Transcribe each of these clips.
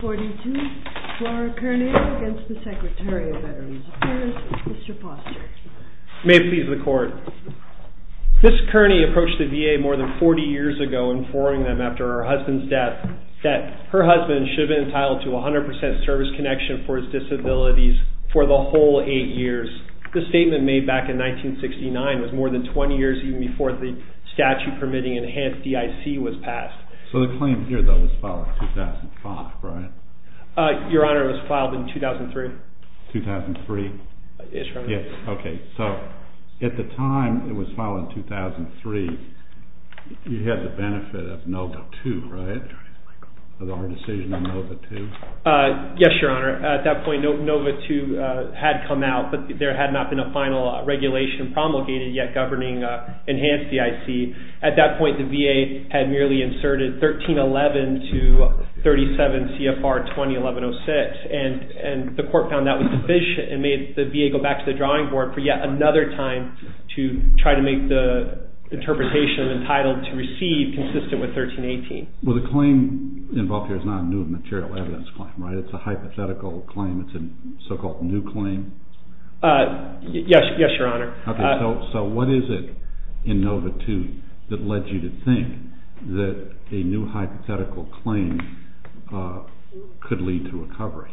According to Flora Kernea against the Secretary of Veterans Affairs, Mr. Foster. May it please the Court. Ms. Kernea approached the VA more than 40 years ago, informing them after her husband's death that her husband should have been entitled to 100% service connection for his disabilities for the whole 8 years. This statement made back in 1969 was more than 20 years even before the statute permitting enhanced DIC was passed. So the claim here though was filed in 2005, right? Your Honor, it was filed in 2003. 2003. Yes, Your Honor. Okay, so at the time it was filed in 2003, you had the benefit of NOVA 2, right? The hard decision on NOVA 2. Yes, Your Honor. At that point NOVA 2 had come out, but there had not been a final regulation promulgated yet governing enhanced DIC. At that point the VA had merely inserted 1311 to 37 CFR 2011-06. And the Court found that was deficient and made the VA go back to the drawing board for yet another time to try to make the interpretation entitled to receive consistent with 1318. Well, the claim involved here is not a new material evidence claim, right? It's a hypothetical claim. It's a so-called new claim. Yes, Your Honor. Okay, so what is it in NOVA 2 that led you to think that a new hypothetical claim could lead to recovery?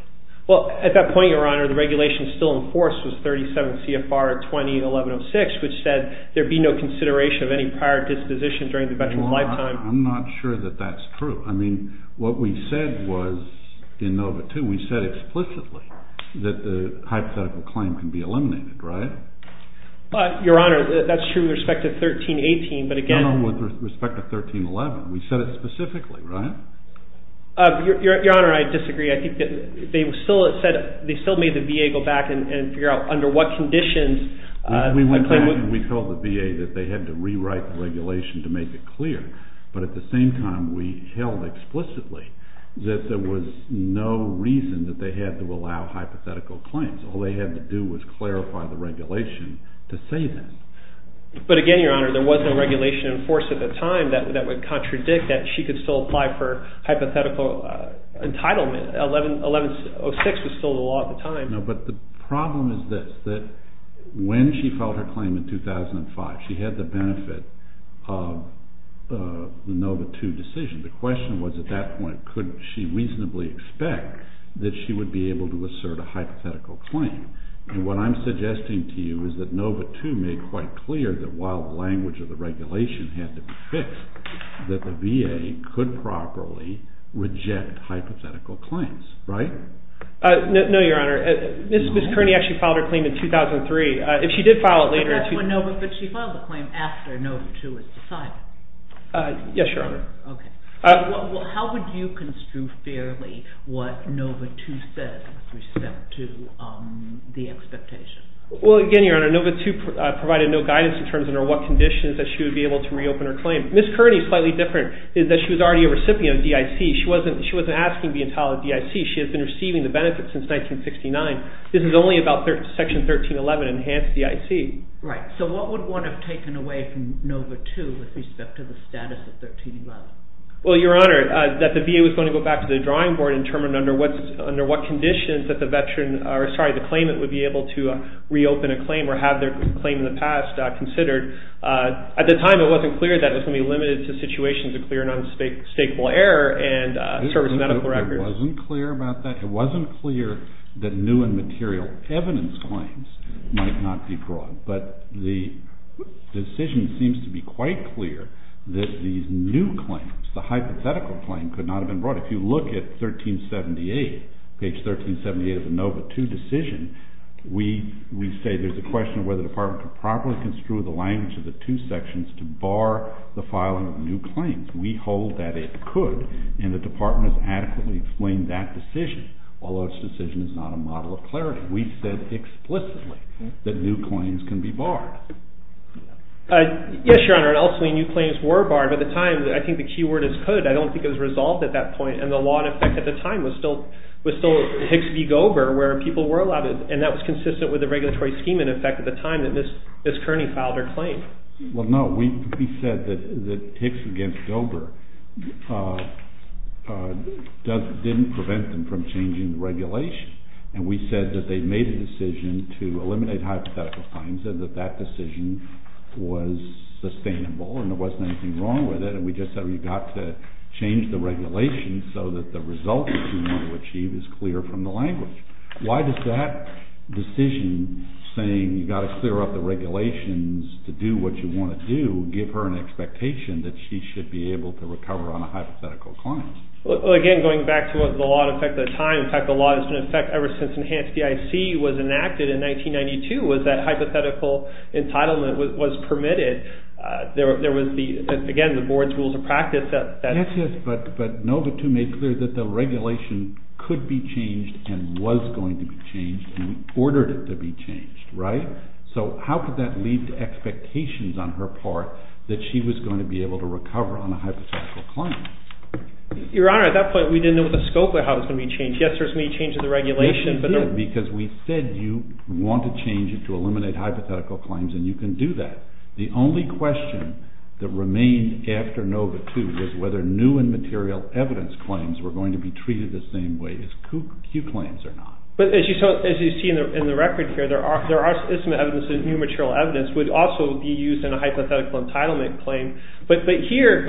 Well, at that point, Your Honor, the regulation still in force was 37 CFR 2011-06 which said there be no consideration of any prior disposition during the veteran's lifetime. I'm not sure that that's true. I mean, what we said was in NOVA 2, we said explicitly that the hypothetical claim can be eliminated, right? Your Honor, that's true with respect to 1318, but again— No, no, with respect to 1311. We said it specifically, right? Your Honor, I disagree. I think they still made the VA go back and figure out under what conditions— We went back and we told the VA that they had to rewrite the regulation to make it clear. But at the same time, we held explicitly that there was no reason that they had to allow hypothetical claims. All they had to do was clarify the regulation to say that. But again, Your Honor, there was no regulation in force at the time that would contradict that she could still apply for hypothetical entitlement. 11-06 was still the law at the time. No, but the problem is this, that when she filed her claim in 2005, she had the benefit of the NOVA 2 decision. The question was at that point, could she reasonably expect that she would be able to assert a hypothetical claim? And what I'm suggesting to you is that NOVA 2 made quite clear that while the language of the regulation had to be fixed, that the VA could properly reject hypothetical claims, right? No, Your Honor. Ms. Kearney actually filed her claim in 2003. If she did file it later— But that's when NOVA—but she filed the claim after NOVA 2 was decided. Yes, Your Honor. Okay. Well, how would you construe fairly what NOVA 2 said with respect to the expectation? Well, again, Your Honor, NOVA 2 provided no guidance in terms of under what conditions that she would be able to reopen her claim. Ms. Kearney is slightly different in that she was already a recipient of DIC. She wasn't asking to be entitled to DIC. She had been receiving the benefit since 1969. This is only about Section 1311, Enhanced DIC. Right. So what would one have taken away from NOVA 2 with respect to the status of 1311? Well, Your Honor, that the VA was going to go back to the drawing board and determine under what conditions that the claimant would be able to reopen a claim or have their claim in the past considered. At the time, it wasn't clear that it was going to be limited to situations of clear and unshakeable error and service medical records. It wasn't clear about that. It wasn't clear that new and material evidence claims might not be brought. But the decision seems to be quite clear that these new claims, the hypothetical claim, could not have been brought. If you look at 1378, page 1378 of the NOVA 2 decision, we say there's a question of whether the Department could properly construe the language of the two sections to bar the filing of new claims. We hold that it could, and the Department has adequately explained that decision, although its decision is not a model of clarity. We said explicitly that new claims can be barred. Yes, Your Honor, and also new claims were barred. At the time, I think the key word is could. I don't think it was resolved at that point, and the law in effect at the time was still Hicks v. Gober, where people were allowed, and that was consistent with the regulatory scheme in effect at the time that Ms. Kearney filed her claim. Well, no, we said that Hicks v. Gober didn't prevent them from changing the regulation, and we said that they made a decision to eliminate hypothetical claims, and that that decision was sustainable and there wasn't anything wrong with it, and we just said we've got to change the regulation so that the result that you want to achieve is clear from the language. Why does that decision saying you've got to clear up the regulations to do what you want to do give her an expectation that she should be able to recover on a hypothetical claim? Well, again, going back to the law in effect at the time, in fact, the law has been in effect ever since enhanced DIC was enacted in 1992, was that hypothetical entitlement was permitted. There was the, again, the board's rules of practice. Yes, yes, but NOVA II made clear that the regulation could be changed and was going to be changed, and we ordered it to be changed, right? So how could that lead to expectations on her part that she was going to be able to recover on a hypothetical claim? Your Honor, at that point, we didn't know the scope of how it was going to be changed. Yes, there's many changes in the regulation, but there weren't. Yes, you did, because we said you want to change it to eliminate hypothetical claims, and you can do that. The only question that remained after NOVA II was whether new and material evidence claims were going to be treated the same way as Q claims or not. But as you see in the record here, there are some evidence that new material evidence would also be used in a hypothetical entitlement claim. But here,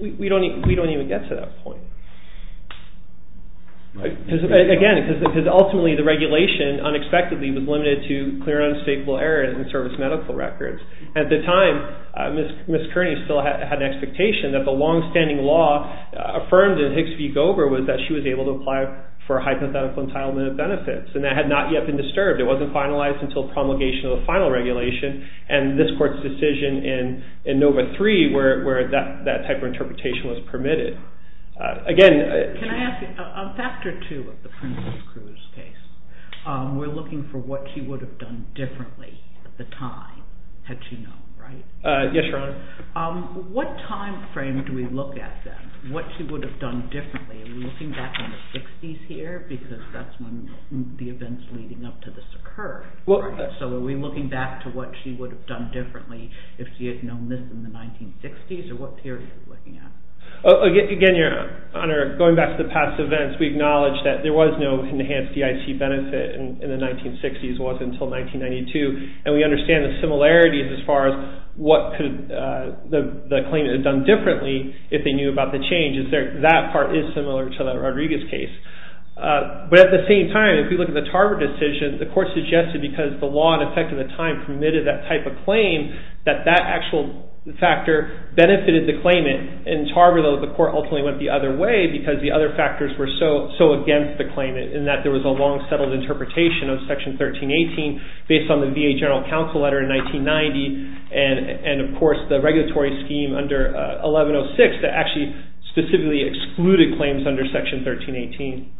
we don't even get to that point, right? At the time, Ms. Kearney still had an expectation that the long-standing law affirmed in Higs v. Gover was that she was able to apply for a hypothetical entitlement of benefits, and that had not yet been disturbed. It wasn't finalized until promulgation of the final regulation, and this Court's decision in NOVA III where that type of interpretation was permitted. Can I ask a factor two of the Princess Cruz case? We're looking for what she would have done differently at the time, had she known, right? Yes, Your Honor. What time frame do we look at then, what she would have done differently? Are we looking back in the 60s here, because that's when the events leading up to this occurred? So are we looking back to what she would have done differently if she had known this in the 1960s, or what period are we looking at? Again, Your Honor, going back to the past events, we acknowledge that there was no enhanced DIC benefit in the 1960s. It wasn't until 1992, and we understand the similarities as far as what could the claimant have done differently if they knew about the changes. That part is similar to that Rodriguez case. But at the same time, if we look at the Tarver decision, the Court suggested because the law in effect at the time permitted that type of claim, that that actual factor benefited the claimant. In Tarver, though, the Court ultimately went the other way because the other factors were so against the claimant, in that there was a long-settled interpretation of Section 1318 based on the VA General Counsel letter in 1990, and, of course, the regulatory scheme under 1106 that actually specifically excluded claims under Section 1318.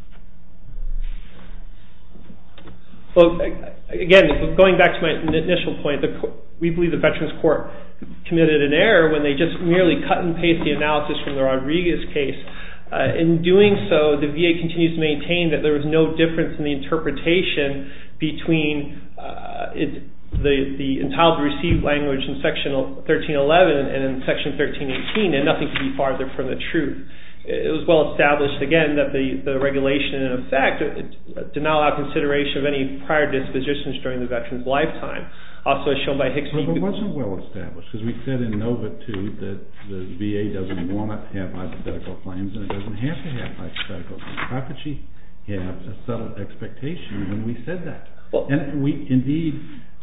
Again, going back to my initial point, we believe the Veterans Court committed an error when they just merely cut and paste the analysis from the Rodriguez case. In doing so, the VA continues to maintain that there was no difference in the interpretation between the entitled to receive language in Section 1311 and in Section 1318, and nothing could be farther from the truth. It was well-established, again, that the regulation in effect did not allow consideration of any prior dispositions during the veteran's lifetime. Also, as shown by Hickson... It wasn't well-established because we said in Nova II that the VA doesn't want to have hypothetical claims and it doesn't have to have hypothetical claims. How could she have a settled expectation when we said that? Indeed,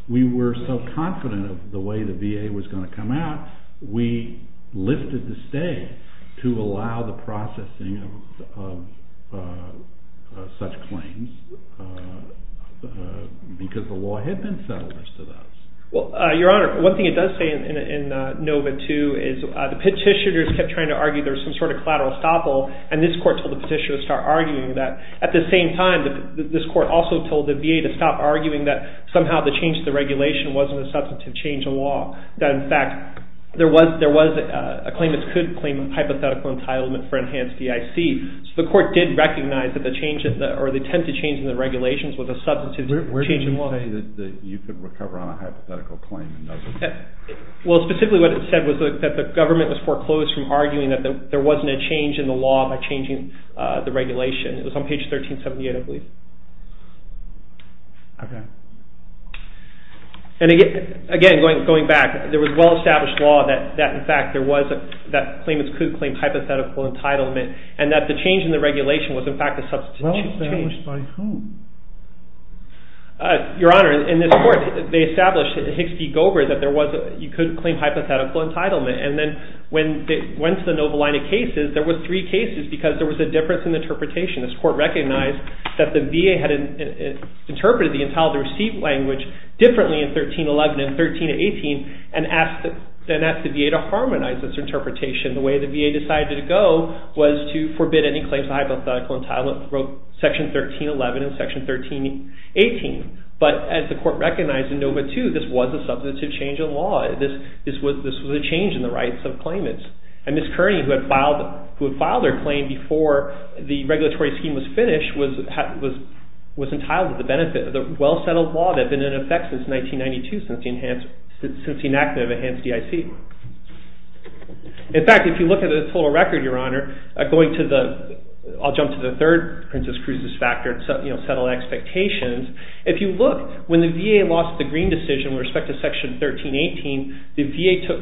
we were so confident of the way the VA was going to come out, we lifted the stay to allow the processing of such claims because the law had been settled as to those. Well, Your Honor, one thing it does say in Nova II is the petitioners kept trying to argue there was some sort of collateral estoppel and this court told the petitioners to start arguing that. At the same time, this court also told the VA to stop arguing that somehow the change to the regulation wasn't a substantive change in law, that, in fact, there was a claim that could claim hypothetical entitlement for enhanced DIC. So the court did recognize that the change or the attempt to change the regulations was a substantive change in law. Where did it say that you could recover on a hypothetical claim? Well, specifically what it said was that the government was foreclosed from arguing that there wasn't a change in the law by changing the regulation. It was on page 1378, I believe. Okay. And again, going back, there was well-established law that, in fact, there was that claimants could claim hypothetical entitlement and that the change in the regulation was, in fact, a substantive change. Well, established by whom? Your Honor, in this court, they established Hicks v. Gobert that you could claim hypothetical entitlement and then when they went to the Nova line of cases, there were three cases because there was a difference in interpretation. This court recognized that the VA had interpreted the entitlement receipt language differently in 1311 and 1318 and asked the VA to harmonize its interpretation. The way the VA decided to go was to forbid any claims of hypothetical entitlement from Section 1311 and Section 1318. But as the court recognized in Nova II, this was a substantive change in law. This was a change in the rights of claimants. And Ms. Kearney, who had filed her claim before the regulatory scheme was finished, was entitled to the benefit of the well-settled law that had been in effect since 1992 since the enactment of Enhanced DIC. In fact, if you look at the total record, Your Honor, going to the, I'll jump to the third Princess Cruz's factor, settled expectations, if you look, when the VA lost the Green decision with respect to Section 1318, the VA took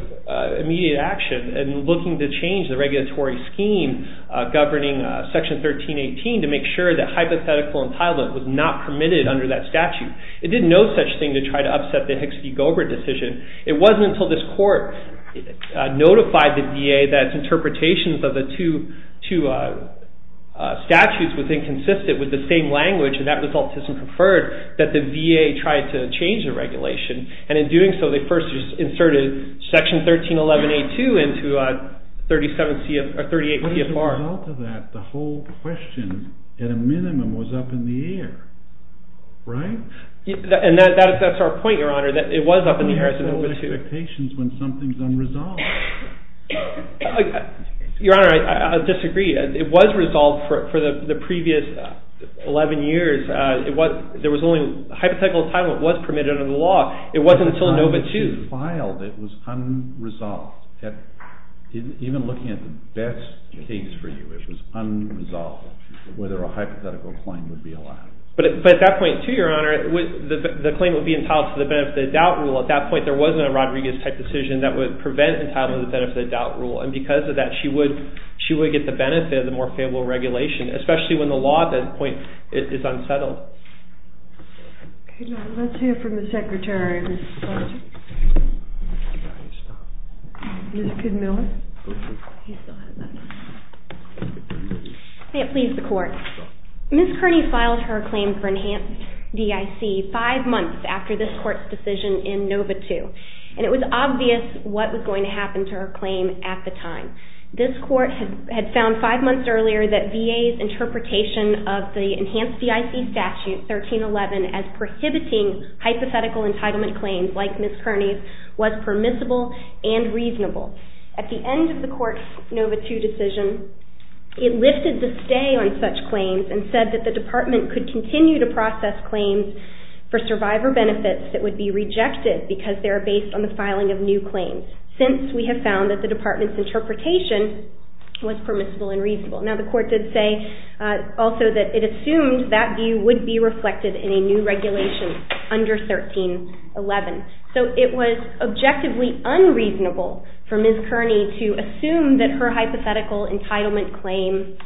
immediate action in looking to change the regulatory scheme governing Section 1318 to make sure that hypothetical entitlement was not permitted under that statute. It did no such thing to try to upset the Hicks v. Gober decision. It wasn't until this court notified the VA that its interpretations of the two statutes was inconsistent with the same language, and that was autism preferred, that the VA tried to change the regulation. And in doing so, they first inserted Section 1311A-2 into 38 CFR. What is the result of that? The whole question, at a minimum, was up in the air, right? And that's our point, Your Honor, that it was up in the air as a number two. What are the expectations when something's unresolved? Your Honor, I disagree. It was resolved for the previous 11 years. Hypothetical entitlement was permitted under the law. It wasn't until ANOVA-2. When she filed, it was unresolved. Even looking at the best case for you, it was unresolved whether a hypothetical claim would be allowed. But at that point, too, Your Honor, the claim would be entitled to the benefit-of-the-doubt rule. At that point, there wasn't a Rodriguez-type decision that would prevent entitlement to the benefit-of-the-doubt rule. And because of that, she would get the benefit of the more favorable regulation, especially when the law, at that point, is unsettled. Okay, Your Honor. Let's hear from the Secretary, Mr. Sargent. Ms. Kidmiller. May it please the Court. Ms. Kearney filed her claim for enhanced DIC five months after this Court's decision in ANOVA-2. And it was obvious what was going to happen to her claim at the time. This Court had found five months earlier that VA's interpretation of the enhanced DIC statute, 1311, as prohibiting hypothetical entitlement claims like Ms. Kearney's was permissible and reasonable. At the end of the Court's ANOVA-2 decision, it lifted the stay on such claims and said that the Department could continue to process claims for survivor benefits that would be rejected because they are based on the filing of new claims. Since we have found that the Department's interpretation was permissible and reasonable. Now, the Court did say also that it assumed that view would be reflected in a new regulation under 1311. So it was objectively unreasonable for Ms. Kearney to assume that her hypothetical entitlement claim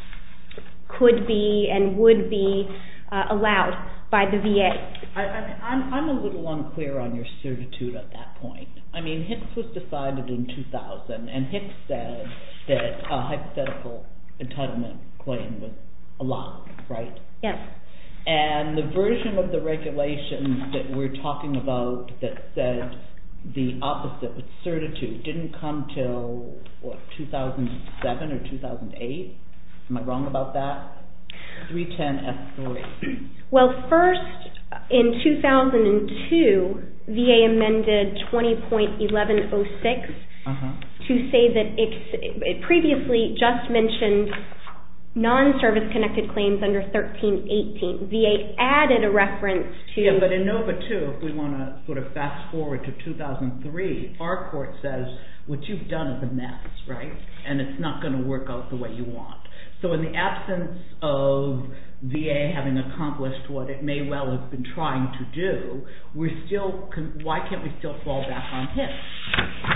could be and would be allowed by the VA. I'm a little unclear on your certitude at that point. I mean, HIPPS was decided in 2000, and HIPPS said that a hypothetical entitlement claim was allowed, right? Yes. And the version of the regulation that we're talking about that said the opposite with certitude didn't come until 2007 or 2008? Am I wrong about that? 310F3. Well, first, in 2002, VA amended 20.1106 to say that it previously just mentioned non-service-connected claims under 1318. VA added a reference to... Yeah, but in NOVA 2, if we want to sort of fast-forward to 2003, our Court says, what you've done is a mess, right? And it's not going to work out the way you want. So in the absence of VA having accomplished what it may well have been trying to do, why can't we still fall back on HIPPS?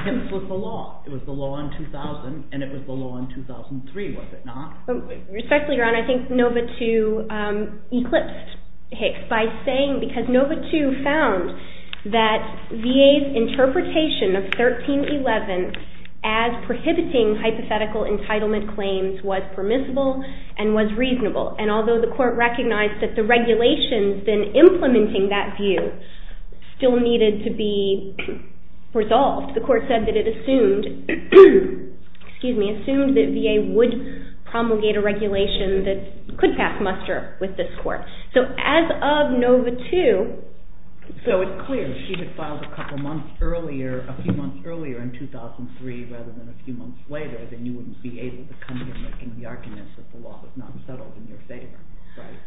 HIPPS was the law. It was the law in 2000, and it was the law in 2003, was it not? Respectfully, Your Honor, I think NOVA 2 eclipsed HIPPS by saying because NOVA 2 found that VA's interpretation of 13.11 as prohibiting hypothetical entitlement claims was permissible and was reasonable. And although the Court recognized that the regulations in implementing that view still needed to be resolved, the Court said that it assumed that VA would promulgate a regulation that could pass muster with this Court. So as of NOVA 2... 2003 rather than a few months later, then you wouldn't be able to come here making the argument that the law was not settled in your favor, right?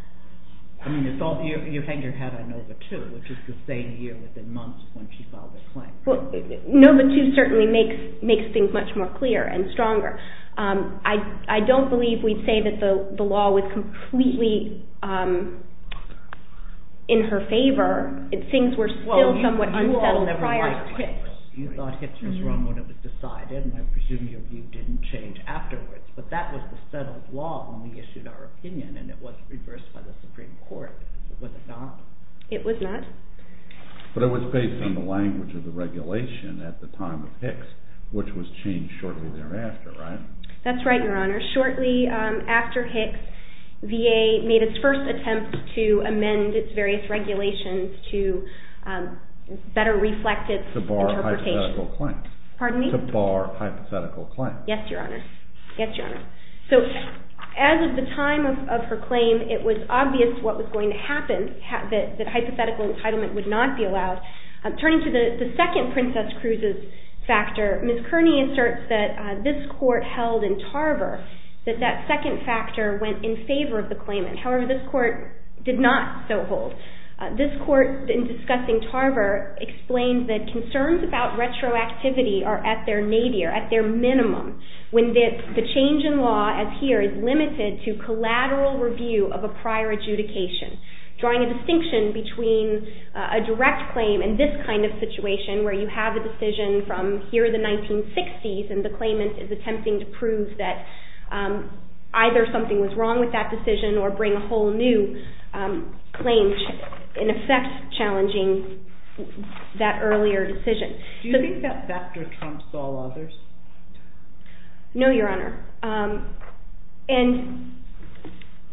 I mean, you're hanging your head on NOVA 2, which is the same year within months when she filed the claim. NOVA 2 certainly makes things much more clear and stronger. I don't believe we'd say that the law was completely in her favor. Things were still somewhat unsettled prior to HIPPS. You thought HIPPS was wrong when it was decided, and I presume your view didn't change afterwards. But that was the settled law when we issued our opinion, and it was reversed by the Supreme Court. Was it not? It was not. But it was based on the language of the regulation at the time of HIPPS, which was changed shortly thereafter, right? That's right, Your Honor. Shortly after HIPPS, VA made its first attempt to amend its various regulations to better reflect its interpretation. To bar hypothetical claims. Pardon me? To bar hypothetical claims. Yes, Your Honor. Yes, Your Honor. So as of the time of her claim, it was obvious what was going to happen, that hypothetical entitlement would not be allowed. Turning to the second Princess Cruz's factor, Ms. Kearney asserts that this court held in Tarver that that second factor went in favor of the claimant. However, this court did not so hold. This court, in discussing Tarver, explains that concerns about retroactivity are at their nadir, at their minimum, when the change in law, as here, is limited to collateral review of a prior adjudication. Drawing a distinction between a direct claim and this kind of situation, where you have a decision from here, the 1960s, and the claimant is attempting to prove that either something was wrong with that decision or bring a whole new claim, in effect challenging that earlier decision. Do you think that factor trumps all others? No, Your Honor. And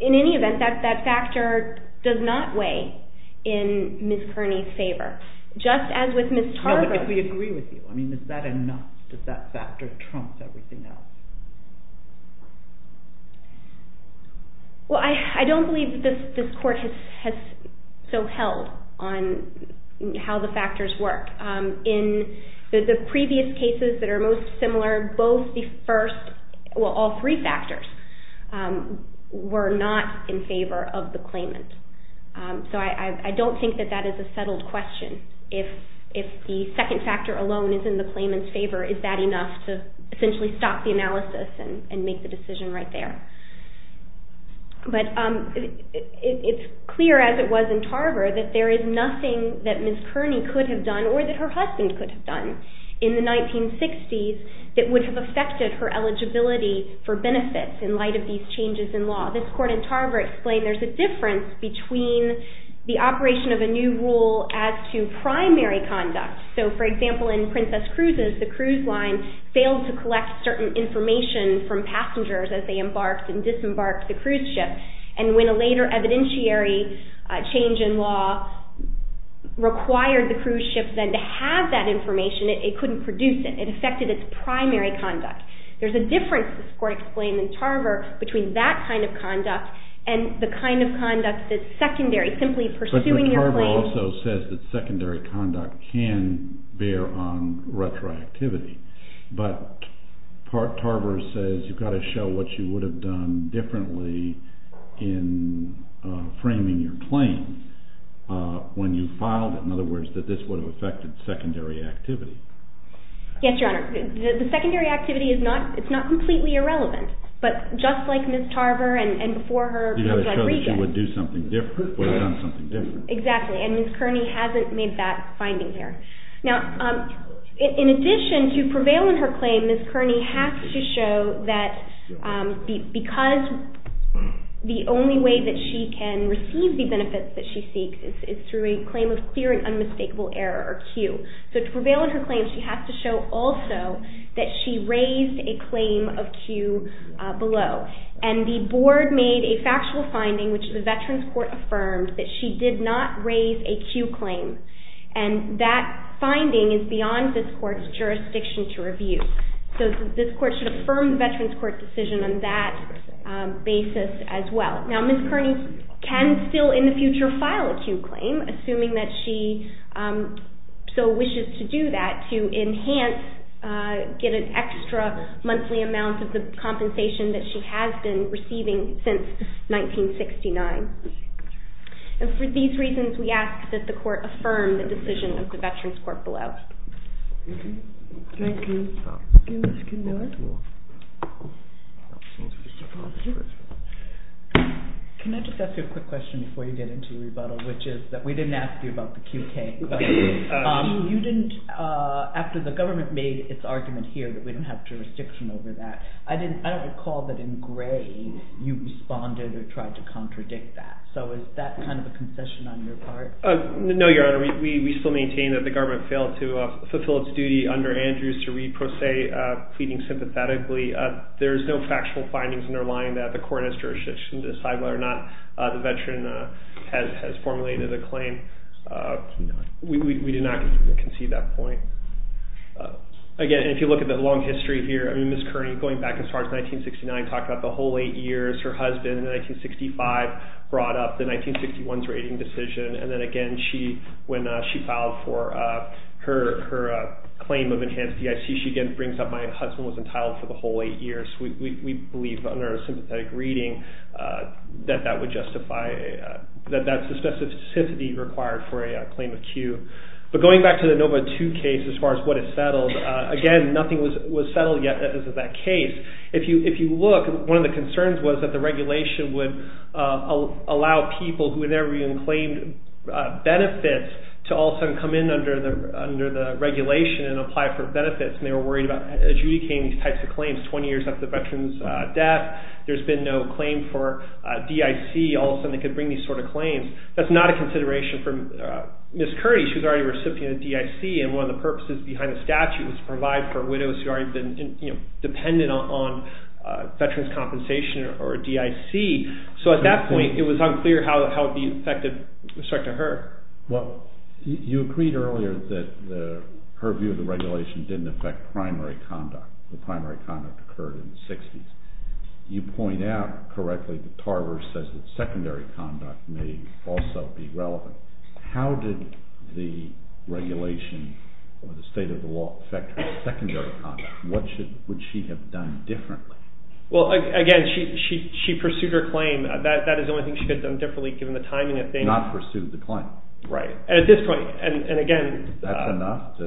in any event, that factor does not weigh in Ms. Kearney's favor. Just as with Ms. Tarver. No, but if we agree with you, I mean, is that enough? Does that factor trump everything else? Well, I don't believe this court has so held on how the factors work. In the previous cases that are most similar, both the first, well, all three factors, were not in favor of the claimant. So I don't think that that is a settled question. If the second factor alone is in the claimant's favor, is that enough to essentially stop the analysis and make the decision right there? But it's clear, as it was in Tarver, that there is nothing that Ms. Kearney could have done or that her husband could have done in the 1960s that would have affected her eligibility for benefits in light of these changes in law. This court in Tarver explained there's a difference between the operation of a new rule as to primary conduct. So, for example, in Princess Cruises, the cruise line failed to collect certain information from passengers as they embarked and disembarked the cruise ship. And when a later evidentiary change in law required the cruise ship then to have that information, it couldn't produce it. It affected its primary conduct. There's a difference, this court explained in Tarver, between that kind of conduct and the kind of conduct that's secondary, simply pursuing your claim. It also says that secondary conduct can bear on retroactivity. But Tarver says you've got to show what you would have done differently in framing your claim when you filed it. In other words, that this would have affected secondary activity. Yes, Your Honor. The secondary activity is not completely irrelevant. But just like Ms. Tarver and before her husband Regan... You've got to show that she would have done something different. Exactly, and Ms. Kearney hasn't made that finding here. Now, in addition, to prevail in her claim, Ms. Kearney has to show that because the only way that she can receive the benefits that she seeks is through a claim of clear and unmistakable error, or Q. So to prevail in her claim, she has to show also that she raised a claim of Q below. And the board made a factual finding, which the Veterans Court affirmed, that she did not raise a Q claim. And that finding is beyond this court's jurisdiction to review. So this court should affirm the Veterans Court decision on that basis as well. Now, Ms. Kearney can still in the future file a Q claim, assuming that she so wishes to do that, to enhance, get an extra monthly amount of the compensation that she has been receiving since 1969. And for these reasons, we ask that the court affirm the decision of the Veterans Court below. Thank you. Thank you, Ms. Kinner. Can I just ask you a quick question before you get into the rebuttal, which is that we didn't ask you about the Q.K. You didn't, after the government made its argument here that we don't have jurisdiction over that, I don't recall that in Gray you responded or tried to contradict that. So is that kind of a concession on your part? No, Your Honor. We still maintain that the government failed to fulfill its duty under Andrews to read Pro Se pleading sympathetically. There's no factual findings underlying that the court has jurisdiction to decide whether or not the veteran has formulated a claim. We do not concede that point. Again, if you look at the long history here, Ms. Kearney, going back as far as 1969, talked about the whole eight years her husband in 1965 brought up the 1961's rating decision. And then again, when she filed for her claim of enhanced DIC, she again brings up my husband was entitled for the whole eight years. We believe under a sympathetic reading that that would justify, that that's the specificity required for a claim of Q. But going back to the Nova II case, as far as what is settled, again, nothing was settled yet as of that case. If you look, one of the concerns was that the regulation would allow people who had never even claimed benefits to all of a sudden come in under the regulation and apply for benefits. And they were worried about adjudicating these types of claims 20 years after the veteran's death. There's been no claim for DIC. All of a sudden they could bring these sort of claims. That's not a consideration for Ms. Kearney. She was already a recipient of DIC and one of the purposes behind the statute was to provide for widows who already have been dependent on veteran's compensation or DIC. So at that point, it was unclear how it would be effective with respect to her. Well, you agreed earlier that her view of the regulation didn't affect primary conduct. The primary conduct occurred in the 60s. You point out correctly that Tarver says that secondary conduct may also be relevant. How did the regulation or the state of the law affect her secondary conduct? What would she have done differently? Well, again, she pursued her claim. That is the only thing she could have done differently given the timing of things. Not pursued the claim. Right. At this point, and again... That's enough?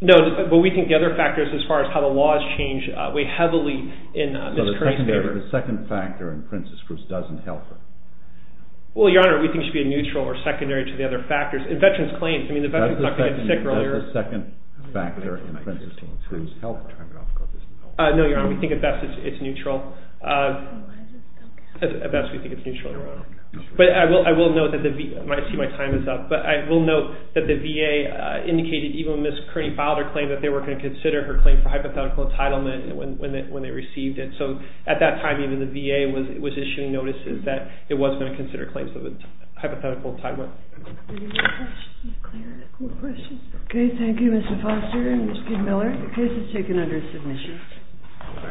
No, but we think the other factors as far as how the laws change weigh heavily in Ms. Kearney's favor. The second factor in Princess Cruz doesn't help her. Well, Your Honor, we think she should be neutral or secondary to the other factors. In veterans' claims... That's the second factor in Princess Cruz's health. No, Your Honor, we think at best it's neutral. At best, we think it's neutral. But I will note that the VA... I see my time is up, but I will note that the VA indicated even when Ms. Kearney filed her claim that they were going to consider her claim for hypothetical entitlement when they received it. So at that time, even the VA was issuing notices that it was going to consider claims of hypothetical entitlement. Okay, thank you, Mr. Foster and Mr. Miller. The case is taken under submission.